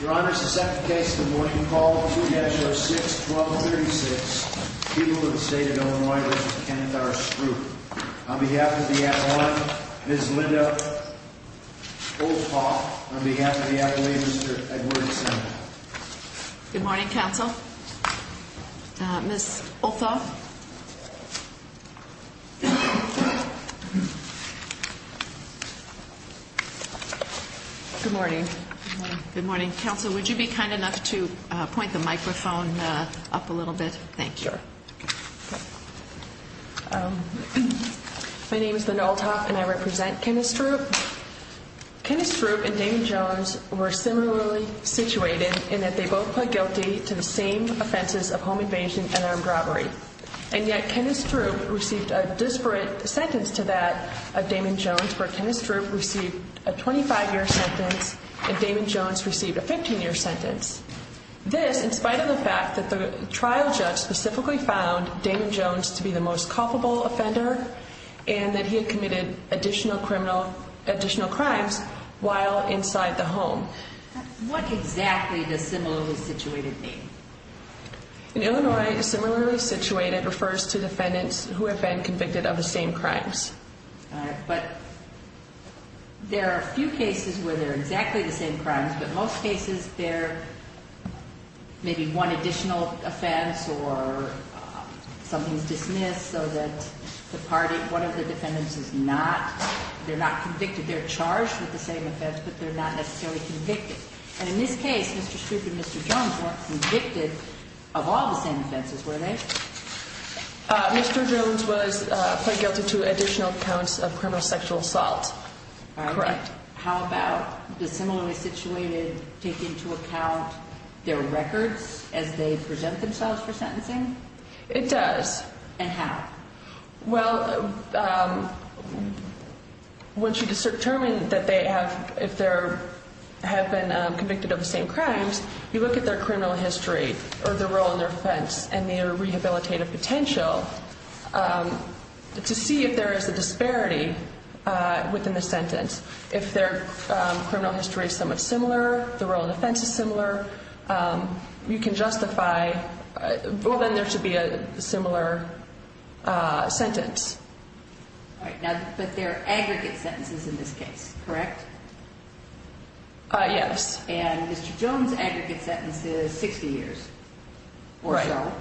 Your Honor, this is the second case of the morning, called 2-0-6-12-36. People of the State of Illinois v. Kenneth R. Stroup. On behalf of the Appalachians, Ms. Linda Olthoff. On behalf of the Appalachians, Mr. Edward Sandel. Good morning, counsel. Ms. Olthoff. Good morning. Good morning, counsel. Would you be kind enough to point the microphone up a little bit? Thank you. Sure. Okay. My name is Linda Olthoff, and I represent Kenneth Stroup. Kenneth Stroup and Damon Jones were similarly situated in that they both pled guilty to the same offenses of home invasion and armed robbery. And yet, Kenneth Stroup received a disparate sentence to that of Damon Jones, where Kenneth Stroup received a 25-year sentence and Damon Jones received a 15-year sentence. This, in spite of the fact that the trial judge specifically found Damon Jones to be the most culpable offender and that he had committed additional crimes while inside the home. What exactly does similarly situated mean? In Illinois, similarly situated refers to defendants who have been convicted of the same crimes. All right. But there are a few cases where they're exactly the same crimes, but most cases they're maybe one additional offense or something's dismissed so that the party, one of the defendants is not, they're not convicted. They're charged with the same offense, but they're not necessarily convicted. And in this case, Mr. Stroup and Mr. Jones weren't convicted of all the same offenses, were they? Mr. Jones was pled guilty to additional counts of criminal sexual assault. All right. Correct. How about the similarly situated take into account their records as they present themselves for sentencing? It does. And how? Well, once you determine that they have, if they have been convicted of the same crimes, you look at their criminal history or the role in their offense and their rehabilitative potential to see if there is a disparity within the sentence. If their criminal history is somewhat similar, the role in offense is similar, you can justify, well, then there should be a similar sentence. All right. But they're aggregate sentences in this case, correct? Yes. And Mr. Jones' aggregate sentence is 60 years or so. Right.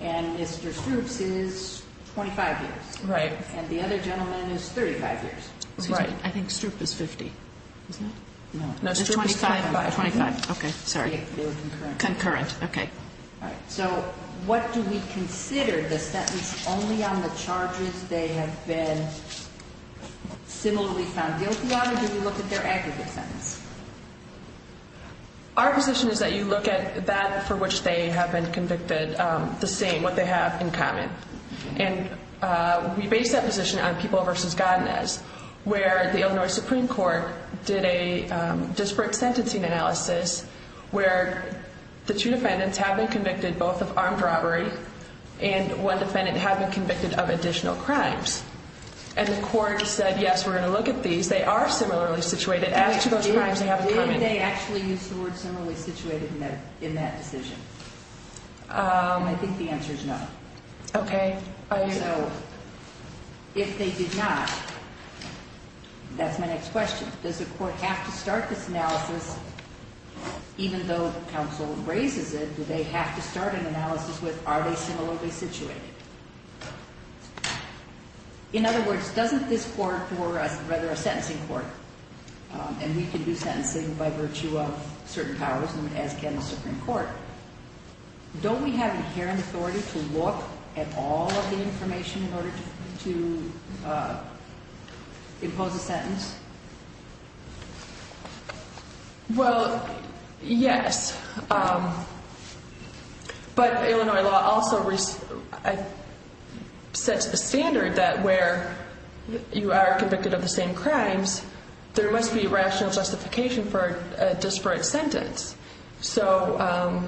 And Mr. Stroup's is 25 years. Right. And the other gentleman is 35 years. Right. I think Stroup is 50, isn't he? No. No, Stroup is 25. 25. Okay. Sorry. Concurrent. Okay. All right. So what do we consider the sentence only on the charges they have been similarly found guilty on or do we look at their aggregate sentence? Our position is that you look at that for which they have been convicted, the same, what they have in common. And we base that position on People v. Godinez where the Illinois Supreme Court did a disparate sentencing analysis where the two defendants have been convicted both of armed robbery and one defendant have been convicted of additional crimes. And the court said, yes, we're going to look at these. They are similarly situated. As to those crimes, they have in common. Why didn't they actually use the word similarly situated in that decision? I think the answer is no. Okay. So if they did not, that's my next question. Does the court have to start this analysis even though counsel raises it? Do they have to start an analysis with are they similarly situated? In other words, doesn't this court, or rather a sentencing court, and we can do sentencing by virtue of certain powers as can the Supreme Court, don't we have inherent authority to look at all of the information in order to impose a sentence? Well, yes. But Illinois law also sets the standard that where you are convicted of the same crimes, there must be rational justification for a disparate sentence. So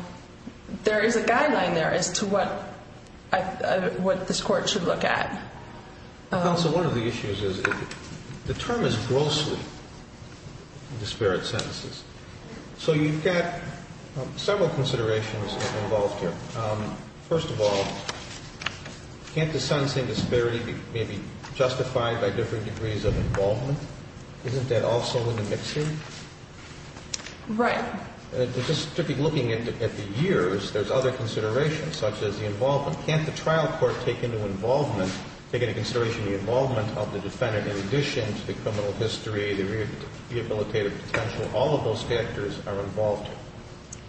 there is a guideline there as to what this court should look at. Counsel, one of the issues is the term is grossly disparate sentences. So you've got several considerations involved here. First of all, can't the sentencing disparity be maybe justified by different degrees of involvement? Isn't that also in the mixing? Right. Just looking at the years, there's other considerations such as the involvement. Can't the trial court take into involvement, take into consideration the involvement of the defendant in addition to the criminal history, the rehabilitative potential? All of those factors are involved.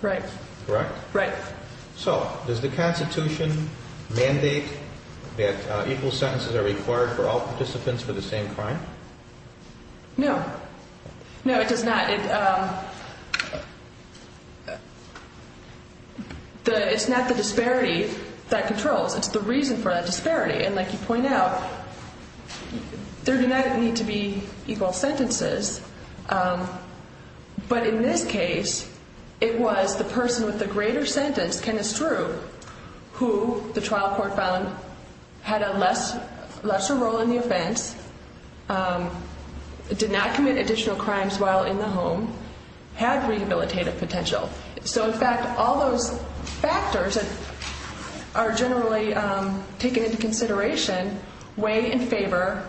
Right. Correct? Right. So does the Constitution mandate that equal sentences are required for all participants for the same crime? No. No, it does not. It's not the disparity that controls. It's the reason for that disparity. And like you point out, there do not need to be equal sentences. But in this case, it was the person with the greater sentence, Kenneth Strew, who the trial court found had a lesser role in the offense, did not commit additional crimes while in the home, had rehabilitative potential. So in fact, all those factors are generally taken into consideration way in favor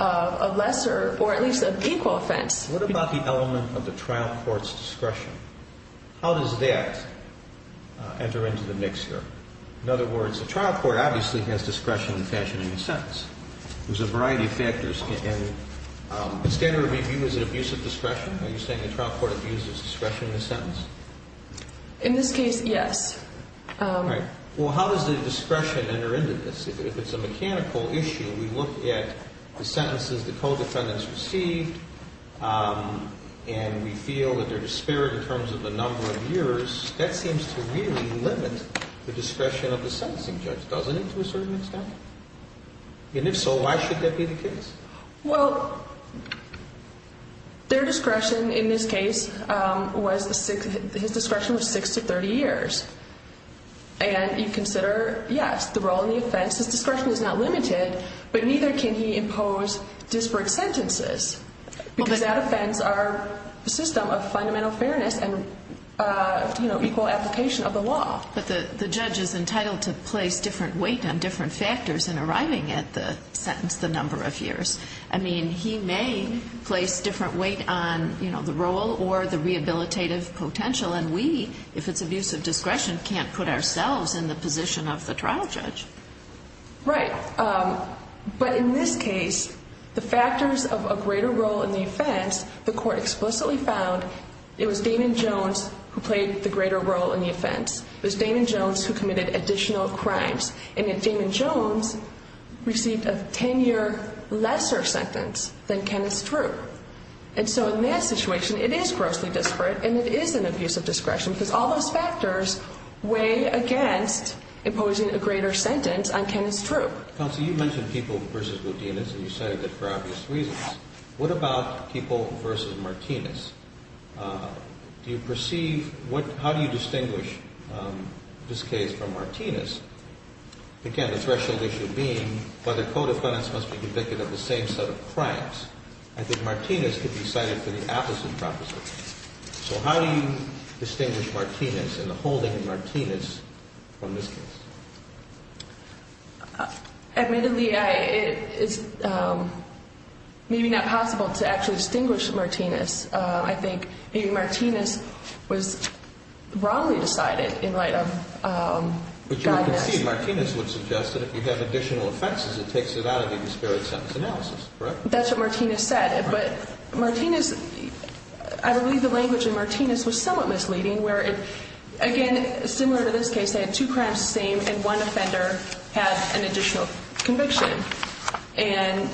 of a lesser or at least an equal offense. What about the element of the trial court's discretion? How does that enter into the mixture? In other words, the trial court obviously has discretion in fashioning the sentence. There's a variety of factors. In standard review, is it abuse of discretion? Are you saying the trial court abuses discretion in the sentence? In this case, yes. Right. Well, how does the discretion enter into this? If it's a mechanical issue, we look at the sentences the co-defendants received, and we feel that they're disparate in terms of the number of years. That seems to really limit the discretion of the sentencing judge, doesn't it, to a certain extent? And if so, why should that be the case? Well, their discretion in this case was six to 30 years. And you consider, yes, the role in the offense. His discretion is not limited, but neither can he impose disparate sentences because that offense are a system of fundamental fairness and equal application of the law. But the judge is entitled to place different weight on different factors in arriving at the sentence, the number of years. I mean, he may place different weight on, you know, the role or the rehabilitative potential. And we, if it's abuse of discretion, can't put ourselves in the position of the trial judge. Right. But in this case, the factors of a greater role in the offense, the court explicitly found it was Damon Jones who played the greater role in the offense. It was Damon Jones who committed additional crimes. And then Damon Jones received a 10-year lesser sentence than Kenneth Strew. And so in that situation, it is grossly disparate and it is an abuse of discretion because all those factors weigh against imposing a greater sentence on Kenneth Strew. Counsel, you mentioned people versus Martinez, and you cited it for obvious reasons. What about people versus Martinez? Do you perceive, how do you distinguish this case from Martinez? Again, the threshold issue being whether co-defendants must be convicted of the same set of crimes. I think Martinez could be cited for the opposite proposition. So how do you distinguish Martinez and the holding of Martinez from this case? Admittedly, it is maybe not possible to actually distinguish Martinez. I think maybe Martinez was wrongly decided in light of guidance. But you can see Martinez would suggest that if you have additional offenses, it takes it out of the disparate sentence analysis, correct? That's what Martinez said. But Martinez, I believe the language in Martinez was somewhat misleading, where, again, similar to this case, Martinez had two crimes the same and one offender had an additional conviction. And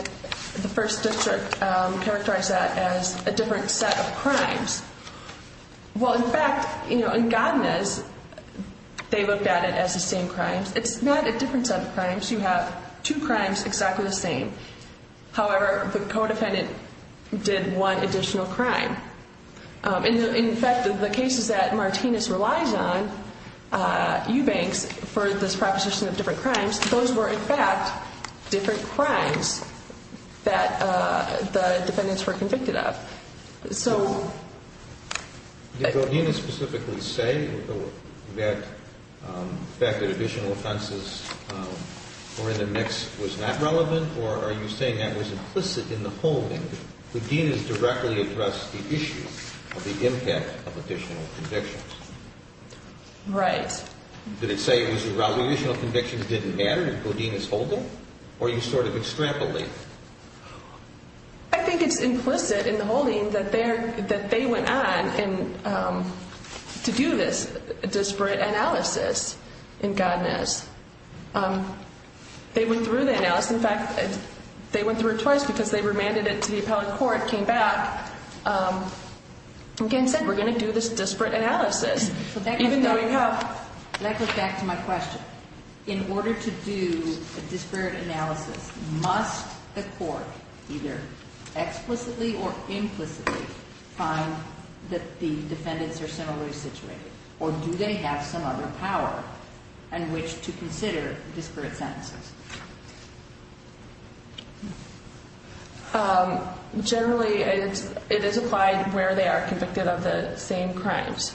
the first district characterized that as a different set of crimes. Well, in fact, in Godinez, they looked at it as the same crimes. It's not a different set of crimes. You have two crimes exactly the same. However, the co-defendant did one additional crime. In fact, the cases that Martinez relies on, Eubanks, for this proposition of different crimes, those were, in fact, different crimes that the defendants were convicted of. So. Did Godinez specifically say that the fact that additional offenses were in the mix was not relevant? Or are you saying that was implicit in the holding? Godinez directly addressed the issue of the impact of additional convictions. Right. Did it say that additional convictions didn't matter in Godinez's holding? Or are you sort of extrapolating? I think it's implicit in the holding that they went on to do this disparate analysis in Godinez. They went through the analysis. In fact, they went through it twice because they remanded it to the appellate court, came back, and said, We're going to do this disparate analysis, even though we have. Let me go back to my question. In order to do a disparate analysis, must the court either explicitly or implicitly find that the defendants are similarly situated? Or do they have some other power in which to consider disparate sentences? Generally, it is applied where they are convicted of the same crimes.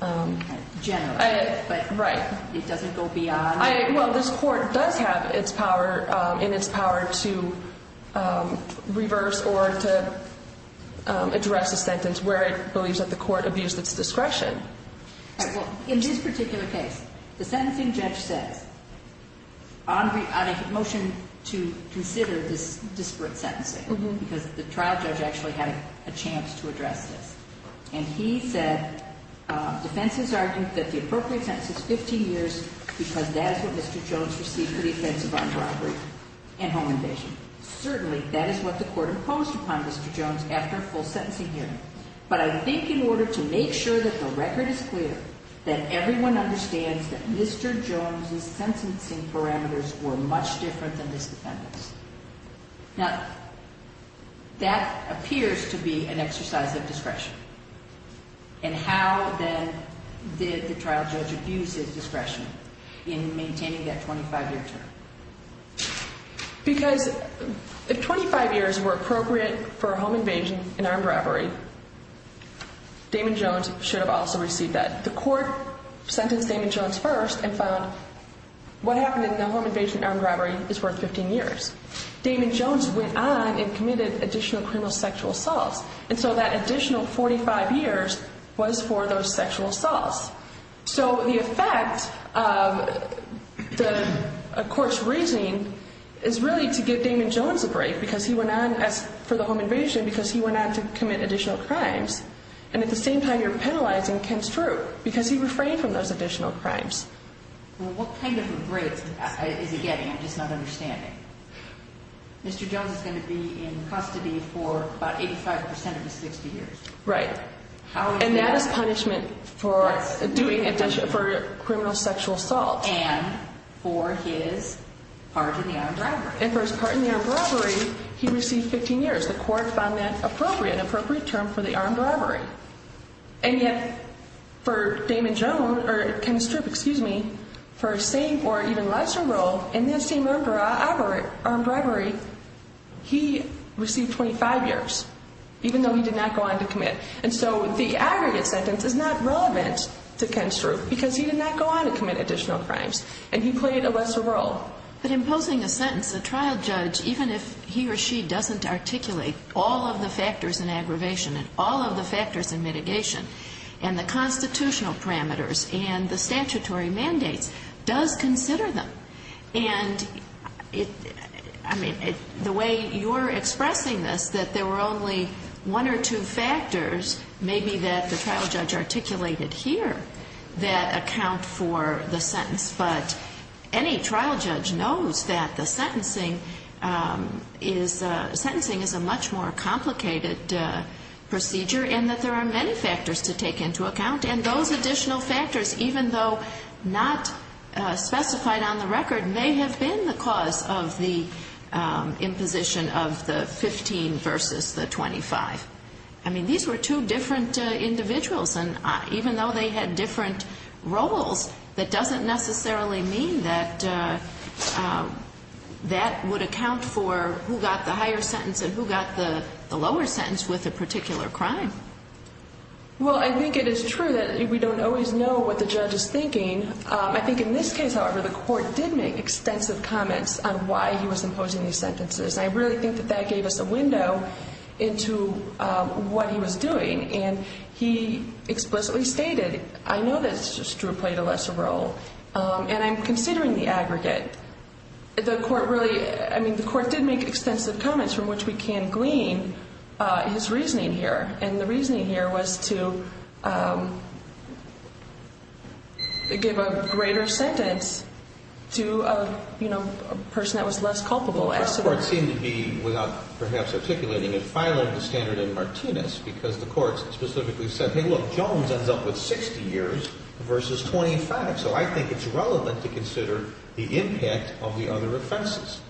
Generally. Right. It doesn't go beyond. Well, this court does have its power and its power to reverse or to address a sentence where it believes that the court abused its discretion. In this particular case, the sentencing judge says, on a motion to consider this disparate sentencing, because the trial judge actually had a chance to address this, and he said defense has argued that the appropriate sentence is 15 years, because that is what Mr. Jones received for the offense of armed robbery and home invasion. Certainly, that is what the court imposed upon Mr. Jones after a full sentencing hearing. But I think in order to make sure that the record is clear, that everyone understands that Mr. Jones' sentencing parameters were much different than this defendant's. Now, that appears to be an exercise of discretion. And how, then, did the trial judge abuse his discretion in maintaining that 25-year term? Because if 25 years were appropriate for a home invasion and armed robbery, Damon Jones should have also received that. The court sentenced Damon Jones first and found what happened in the home invasion and armed robbery is worth 15 years. Damon Jones went on and committed additional criminal sexual assaults. And so that additional 45 years was for those sexual assaults. So the effect of the court's reasoning is really to give Damon Jones a break, because he went on for the home invasion because he went on to commit additional crimes. And at the same time, you're penalizing Ken Strew because he refrained from those additional crimes. Well, what kind of a break is he getting? I'm just not understanding. Mr. Jones is going to be in custody for about 85 percent of his 60 years. Right. And that is punishment for doing additional criminal sexual assaults. And for his part in the armed robbery. And for his part in the armed robbery, he received 15 years. The court found that appropriate, an appropriate term for the armed robbery. And yet for Damon Jones or Ken Strew, excuse me, for a same or even lesser role in this same armed robbery, he received 25 years, even though he did not go on to commit. And so the aggregate sentence is not relevant to Ken Strew because he did not go on to commit additional crimes. And he played a lesser role. But imposing a sentence, a trial judge, even if he or she doesn't articulate all of the factors in aggravation and all of the factors in mitigation and the constitutional parameters and the statutory mandates, does consider them. And I mean, the way you're expressing this, that there were only one or two factors, maybe that the trial judge articulated here, that account for the sentence. But any trial judge knows that the sentencing is a much more complicated procedure and that there are many factors to take into account. And those additional factors, even though not specified on the record, may have been the cause of the imposition of the 15 versus the 25. I mean, these were two different individuals. And even though they had different roles, that doesn't necessarily mean that that would account for who got the higher sentence and who got the lower sentence with a particular crime. Well, I think it is true that we don't always know what the judge is thinking. I think in this case, however, the court did make extensive comments on why he was imposing these sentences. I really think that that gave us a window into what he was doing. And he explicitly stated, I know that it's just true it played a lesser role, and I'm considering the aggregate. I mean, the court did make extensive comments from which we can glean his reasoning here. And the reasoning here was to give a greater sentence to a person that was less culpable. Well, the court seemed to be, without perhaps articulating it, because the court specifically said, hey, look, Jones ends up with 60 years versus 25. So I think it's relevant to consider the impact of the other offenses.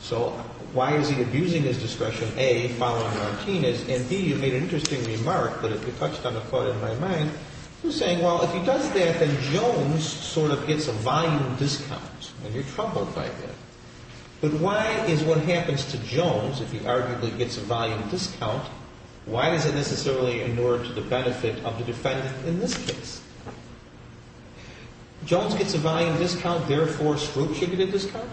So why is he abusing his discretion, A, following Martinez, and, B, you made an interesting remark, but if you touched on a point in my mind, you're saying, well, if he does that, then Jones sort of gets a volume discount, and you're troubled by that. But why is what happens to Jones, if he arguably gets a volume discount, why does it necessarily inure to the benefit of the defendant in this case? Jones gets a volume discount, therefore, scrutinative discount?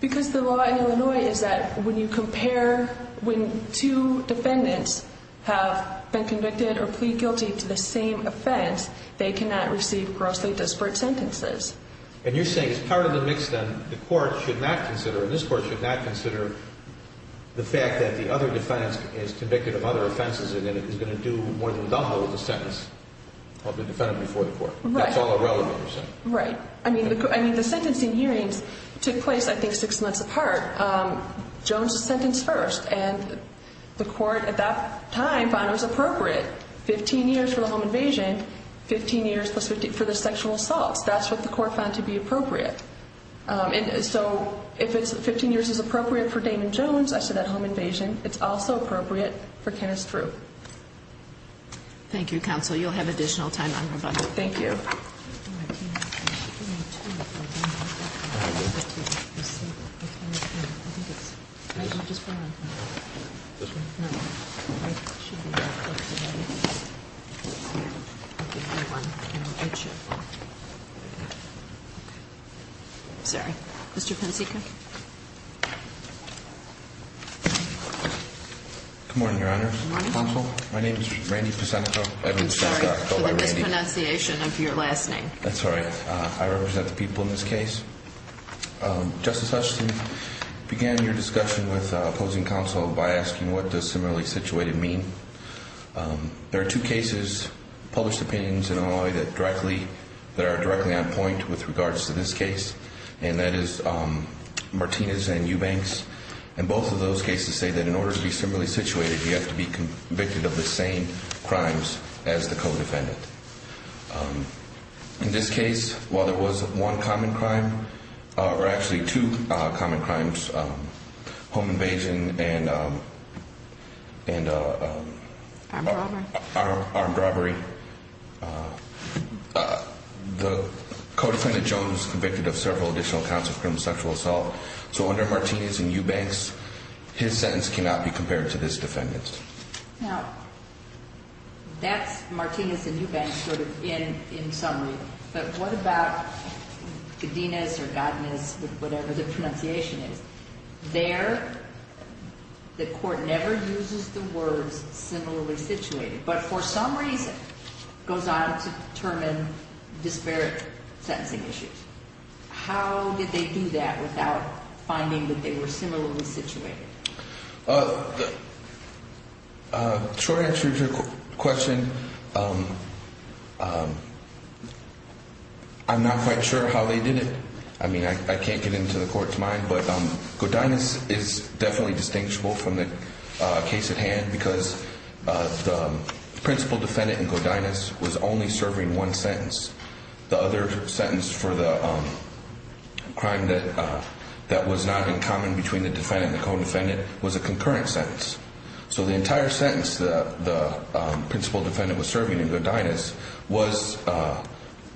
Because the law in Illinois is that when you compare when two defendants have been convicted or plead guilty to the same offense, they cannot receive grossly disparate sentences. And you're saying it's part of the mix, then, the court should not consider, and this court should not consider the fact that the other defendant is convicted of other offenses and that it is going to do more than double the sentence of the defendant before the court. That's all irrelevant, you're saying? Right. I mean, the sentencing hearings took place, I think, six months apart. Jones was sentenced first, and the court at that time found it was appropriate, 15 years for the home invasion, 15 years for the sexual assaults. That's what the court found to be appropriate. So if 15 years is appropriate for Damon Jones, I said that home invasion, it's also appropriate for Kenneth Drew. Thank you, counsel. You'll have additional time on your budget. Thank you. I'm sorry. Mr. Pensica. Good morning, Your Honor. Good morning. Counsel, my name is Randy Pensica. I'm sorry for the mispronunciation of your last name. That's all right. I represent the people in this case. Justice Hutchinson began your discussion with opposing counsel by asking what does similarly situated mean. There are two cases, published opinions in Illinois that are directly on point with regards to this case, and that is Martinez and Eubanks. And both of those cases say that in order to be similarly situated, you have to be convicted of the same crimes as the co-defendant. In this case, while there was one common crime, or actually two common crimes, home invasion and armed robbery, the co-defendant, Jones, was convicted of several additional counts of criminal sexual assault. So under Martinez and Eubanks, his sentence cannot be compared to this defendant's. Now, that's Martinez and Eubanks sort of in summary. But what about Godinez or Godinez, whatever the pronunciation is? There, the court never uses the words similarly situated, but for some reason goes on to determine disparate sentencing issues. How did they do that without finding that they were similarly situated? Short answer to your question, I'm not quite sure how they did it. I mean, I can't get into the court's mind, but Godinez is definitely distinguishable from the case at hand because the principal defendant in Godinez was only serving one sentence. The other sentence for the crime that was not in common between the defendant and the co-defendant was a concurrent sentence. So the entire sentence that the principal defendant was serving in Godinez was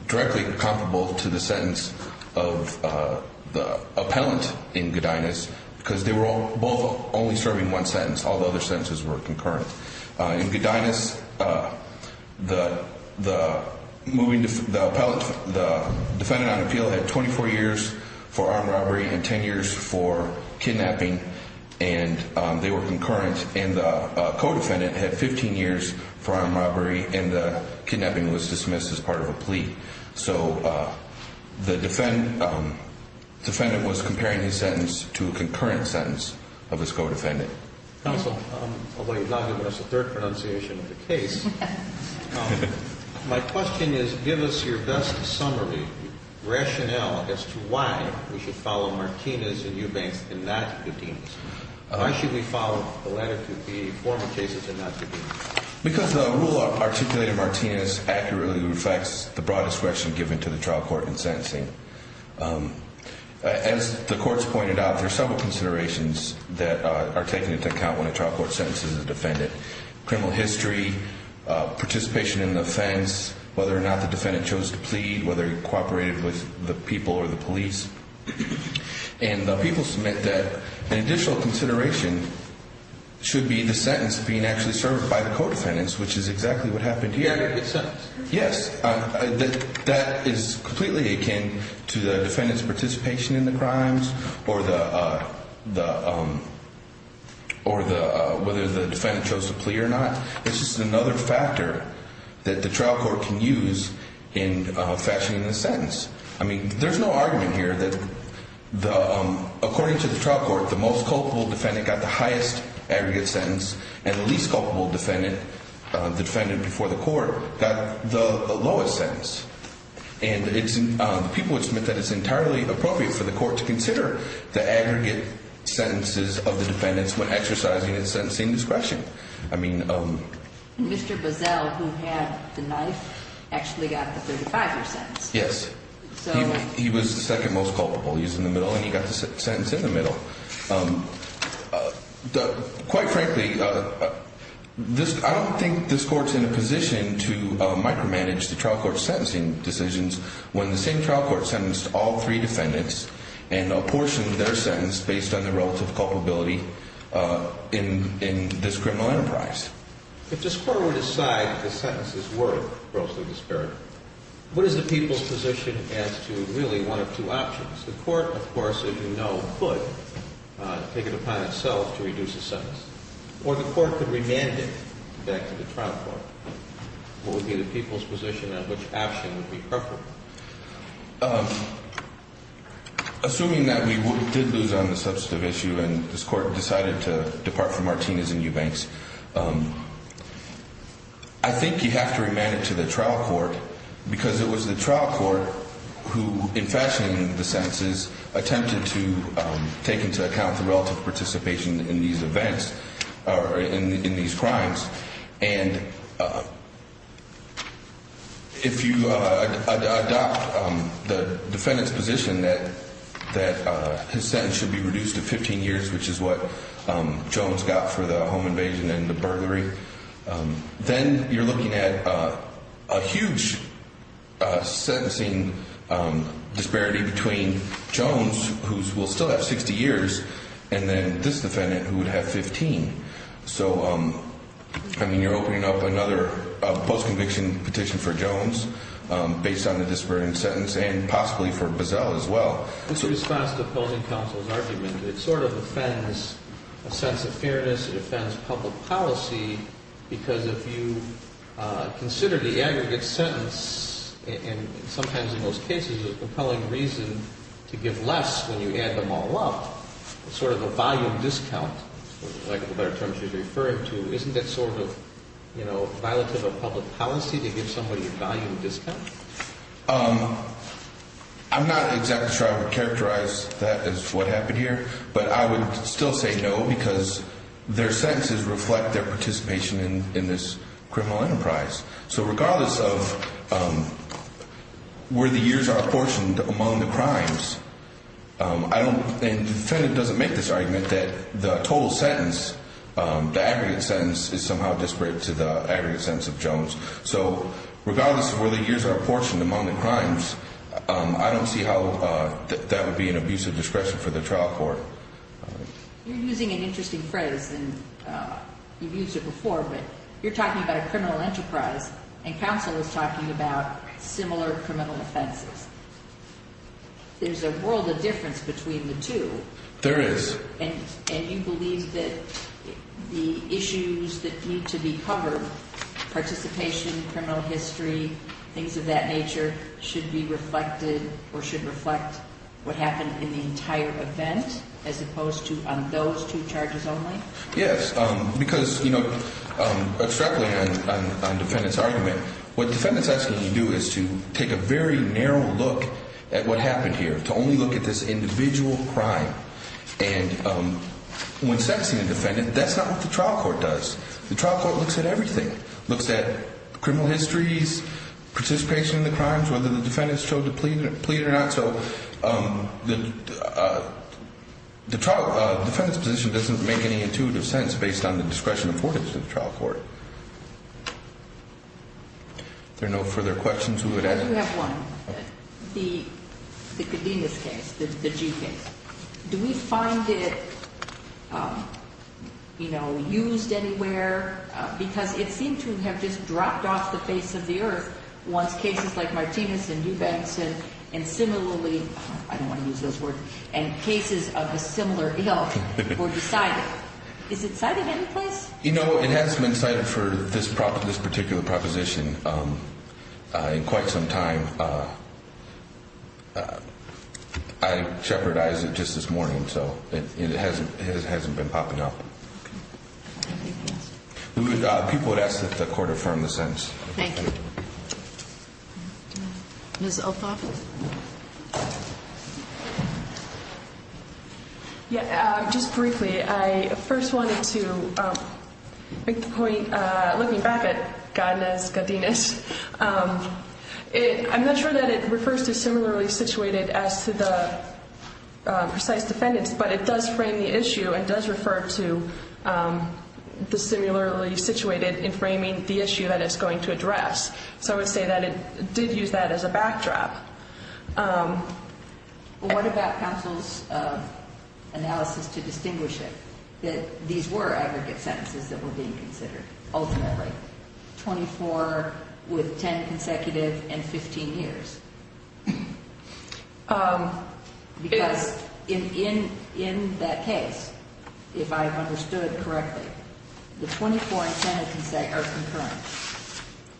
directly comparable to the sentence of the appellant in Godinez because they were both only serving one sentence. All the other sentences were concurrent. In Godinez, the defendant on appeal had 24 years for armed robbery and 10 years for kidnapping, and they were concurrent. And the co-defendant had 15 years for armed robbery, and the kidnapping was dismissed as part of a plea. So the defendant was comparing his sentence to a concurrent sentence of his co-defendant. Counsel, although you've not given us a third pronunciation of the case, my question is give us your best summary, rationale, as to why we should follow Martinez and Eubanks and not Godinez. Why should we follow the letter to the former cases and not Godinez? Because the rule articulated in Martinez accurately reflects the broad discretion given to the trial court in sentencing. As the courts pointed out, there are several considerations that are taken into account when a trial court sentences a defendant. Criminal history, participation in the offense, whether or not the defendant chose to plead, whether he cooperated with the people or the police. And the people submit that an additional consideration should be the sentence being actually served by the co-defendants, which is exactly what happened here. Yes, that is completely akin to the defendant's participation in the crimes or whether the defendant chose to plead or not. It's just another factor that the trial court can use in fashioning the sentence. I mean, there's no argument here that according to the trial court, the most culpable defendant got the highest aggregate sentence and the least culpable defendant, the defendant before the court, got the lowest sentence. And the people would submit that it's entirely appropriate for the court to consider the aggregate sentences of the defendants when exercising its sentencing discretion. Mr. Boesel, who had the knife, actually got the 35-year sentence. Yes. He was the second most culpable. He was in the middle and he got the sentence in the middle. Quite frankly, I don't think this court's in a position to micromanage the trial court's sentencing decisions when the same trial court sentenced all three defendants and apportioned their sentence based on the relative culpability in this criminal enterprise. If this court were to decide the sentences were grossly disparate, what is the people's position as to really one of two options? The court, of course, as you know, could take it upon itself to reduce the sentence, or the court could remand it back to the trial court. What would be the people's position on which option would be preferable? Assuming that we did lose on the substantive issue and this court decided to depart from Martinez and Eubanks, I think you have to remand it to the trial court because it was the trial court who, in fashioning the sentences, attempted to take into account the relative participation in these crimes. And if you adopt the defendant's position that his sentence should be reduced to 15 years, which is what Jones got for the home invasion and the burglary, then you're looking at a huge sentencing disparity between Jones, who will still have 60 years, and then this defendant, who would have 15. So, I mean, you're opening up another post-conviction petition for Jones based on the disparate sentence and possibly for Bazell as well. In response to opposing counsel's argument, it sort of offends a sense of fairness, it offends public policy because if you consider the aggregate sentence, and sometimes in most cases a compelling reason to give less when you add them all up, sort of a volume discount, like the better terms you're referring to, isn't that sort of, you know, violative of public policy to give somebody a volume discount? I'm not exactly sure I would characterize that as what happened here, but I would still say no because their sentences reflect their participation in this criminal enterprise. So regardless of where the years are apportioned among the crimes, and the defendant doesn't make this argument that the total sentence, the aggregate sentence is somehow disparate to the aggregate sentence of Jones, so regardless of where the years are apportioned among the crimes, I don't see how that would be an abuse of discretion for the trial court. You're using an interesting phrase, and you've used it before, but you're talking about a criminal enterprise, and counsel is talking about similar criminal offenses. There's a world of difference between the two. There is. And you believe that the issues that need to be covered, participation, criminal history, things of that nature should be reflected or should reflect what happened in the entire event as opposed to on those two charges only? Yes, because, you know, abstractly on the defendant's argument, what the defendant's asking you to do is to take a very narrow look at what happened here, to only look at this individual crime. And when sentencing a defendant, that's not what the trial court does. The trial court looks at everything. It looks at criminal histories, participation in the crimes, whether the defendant showed to plead or not. So the defendant's position doesn't make any intuitive sense based on the discretion afforded to the trial court. If there are no further questions, we would end. I do have one. The Cadenas case, the G case, do we find it, you know, used anywhere? Because it seemed to have just dropped off the face of the earth once cases like Martinez and New Benson and similarly, I don't want to use those words, and cases of a similar ilk were decided. Is it cited anyplace? You know, it has been cited for this particular proposition in quite some time. I shepherdized it just this morning, so it hasn't been popping up. People would ask that the court affirm the sentence. Thank you. Ms. Elphoff? Yeah, just briefly. I first wanted to make the point, looking back at Cadenas, I'm not sure that it refers to similarly situated as to the precise defendants, but it does frame the issue and does refer to the similarly situated in framing the issue that it's going to address. So I would say that it did use that as a backdrop. What about counsel's analysis to distinguish it, that these were aggregate sentences that were being considered, ultimately? 24 with 10 consecutive and 15 years. Because in that case, if I understood correctly, the 24 and 10 are concurrent.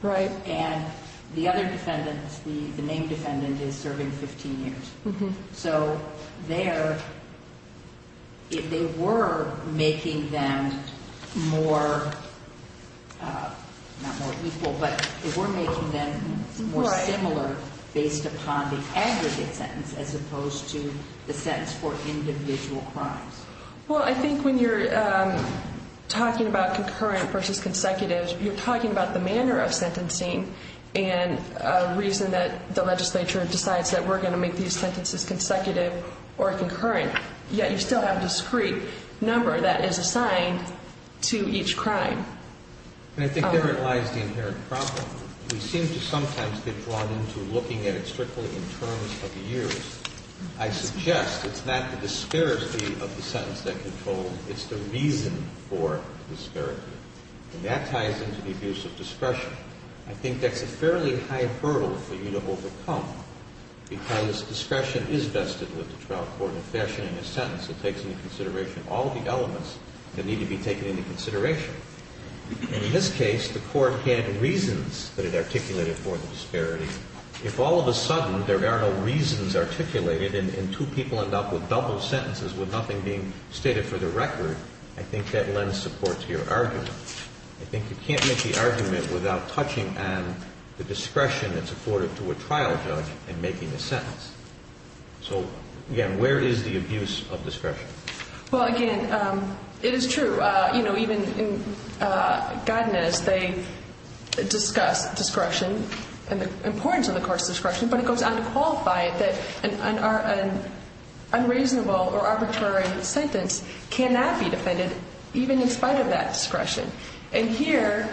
Right. And the other defendants, the main defendant is serving 15 years. So they were making them more, not more equal, but they were making them more similar based upon the aggregate sentence as opposed to the sentence for individual crimes. Well, I think when you're talking about concurrent versus consecutive, you're talking about the manner of sentencing and a reason that the legislature decides that we're going to make these sentences consecutive or concurrent, yet you still have a discrete number that is assigned to each crime. And I think therein lies the inherent problem. We seem to sometimes get drawn into looking at it strictly in terms of years. I suggest it's not the disparity of the sentence that controls, it's the reason for disparity. And that ties into the abuse of discretion. I think that's a fairly high hurdle for you to overcome because discretion is vested with the trial court in fashioning a sentence. It takes into consideration all the elements that need to be taken into consideration. In this case, the court had reasons that it articulated for the disparity. If all of a sudden there are no reasons articulated and two people end up with double sentences with nothing being stated for the record, I think that lends support to your argument. I think you can't make the argument without touching on the discretion that's afforded to a trial judge in making a sentence. So, again, where is the abuse of discretion? Well, again, it is true. You know, even in Godinez, they discuss discretion and the importance of the court's discretion, but it goes on to qualify it that an unreasonable or arbitrary sentence cannot be defended even in spite of that discretion. And here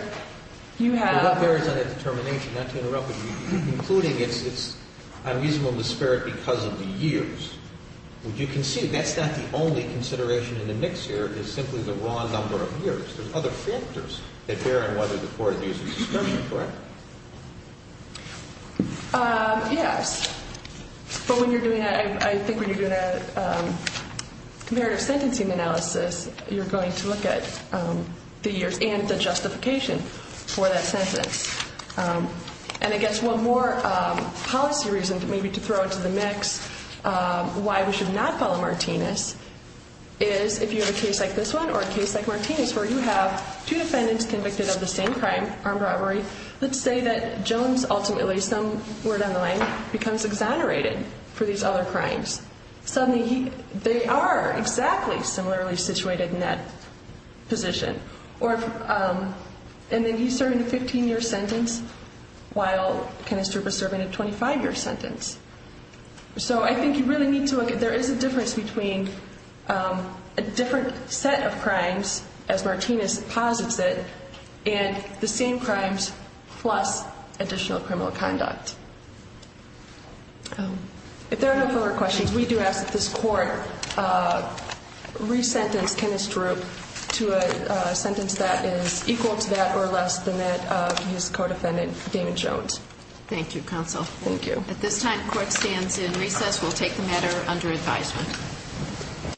you have... What bears on that determination? Not to interrupt, but you're concluding it's unreasonable to spare it because of the years. Would you concede that's not the only consideration in the mix here? It's simply the wrong number of years. There's other factors that bear on whether the court abuses discretion, correct? Yes. But when you're doing that, I think when you're doing a comparative sentencing analysis, you're going to look at the years and the justification for that sentence. And I guess one more policy reason maybe to throw into the mix why we should not follow Martinez is, if you have a case like this one or a case like Martinez where you have two defendants convicted of the same crime, armed robbery, let's say that Jones ultimately, some word on the line, becomes exonerated for these other crimes. Suddenly they are exactly similarly situated in that position. And then he's serving a 15-year sentence while Kenneth Strupe is serving a 25-year sentence. So I think you really need to look at there is a difference between a different set of crimes, as Martinez posits it, and the same crimes plus additional criminal conduct. If there are no further questions, we do ask that this court resentence Kenneth Strupe to a sentence that is equal to that or less than that of his co-defendant, David Jones. Thank you, counsel. Thank you. At this time, the court stands in recess. We'll take the matter under advisement.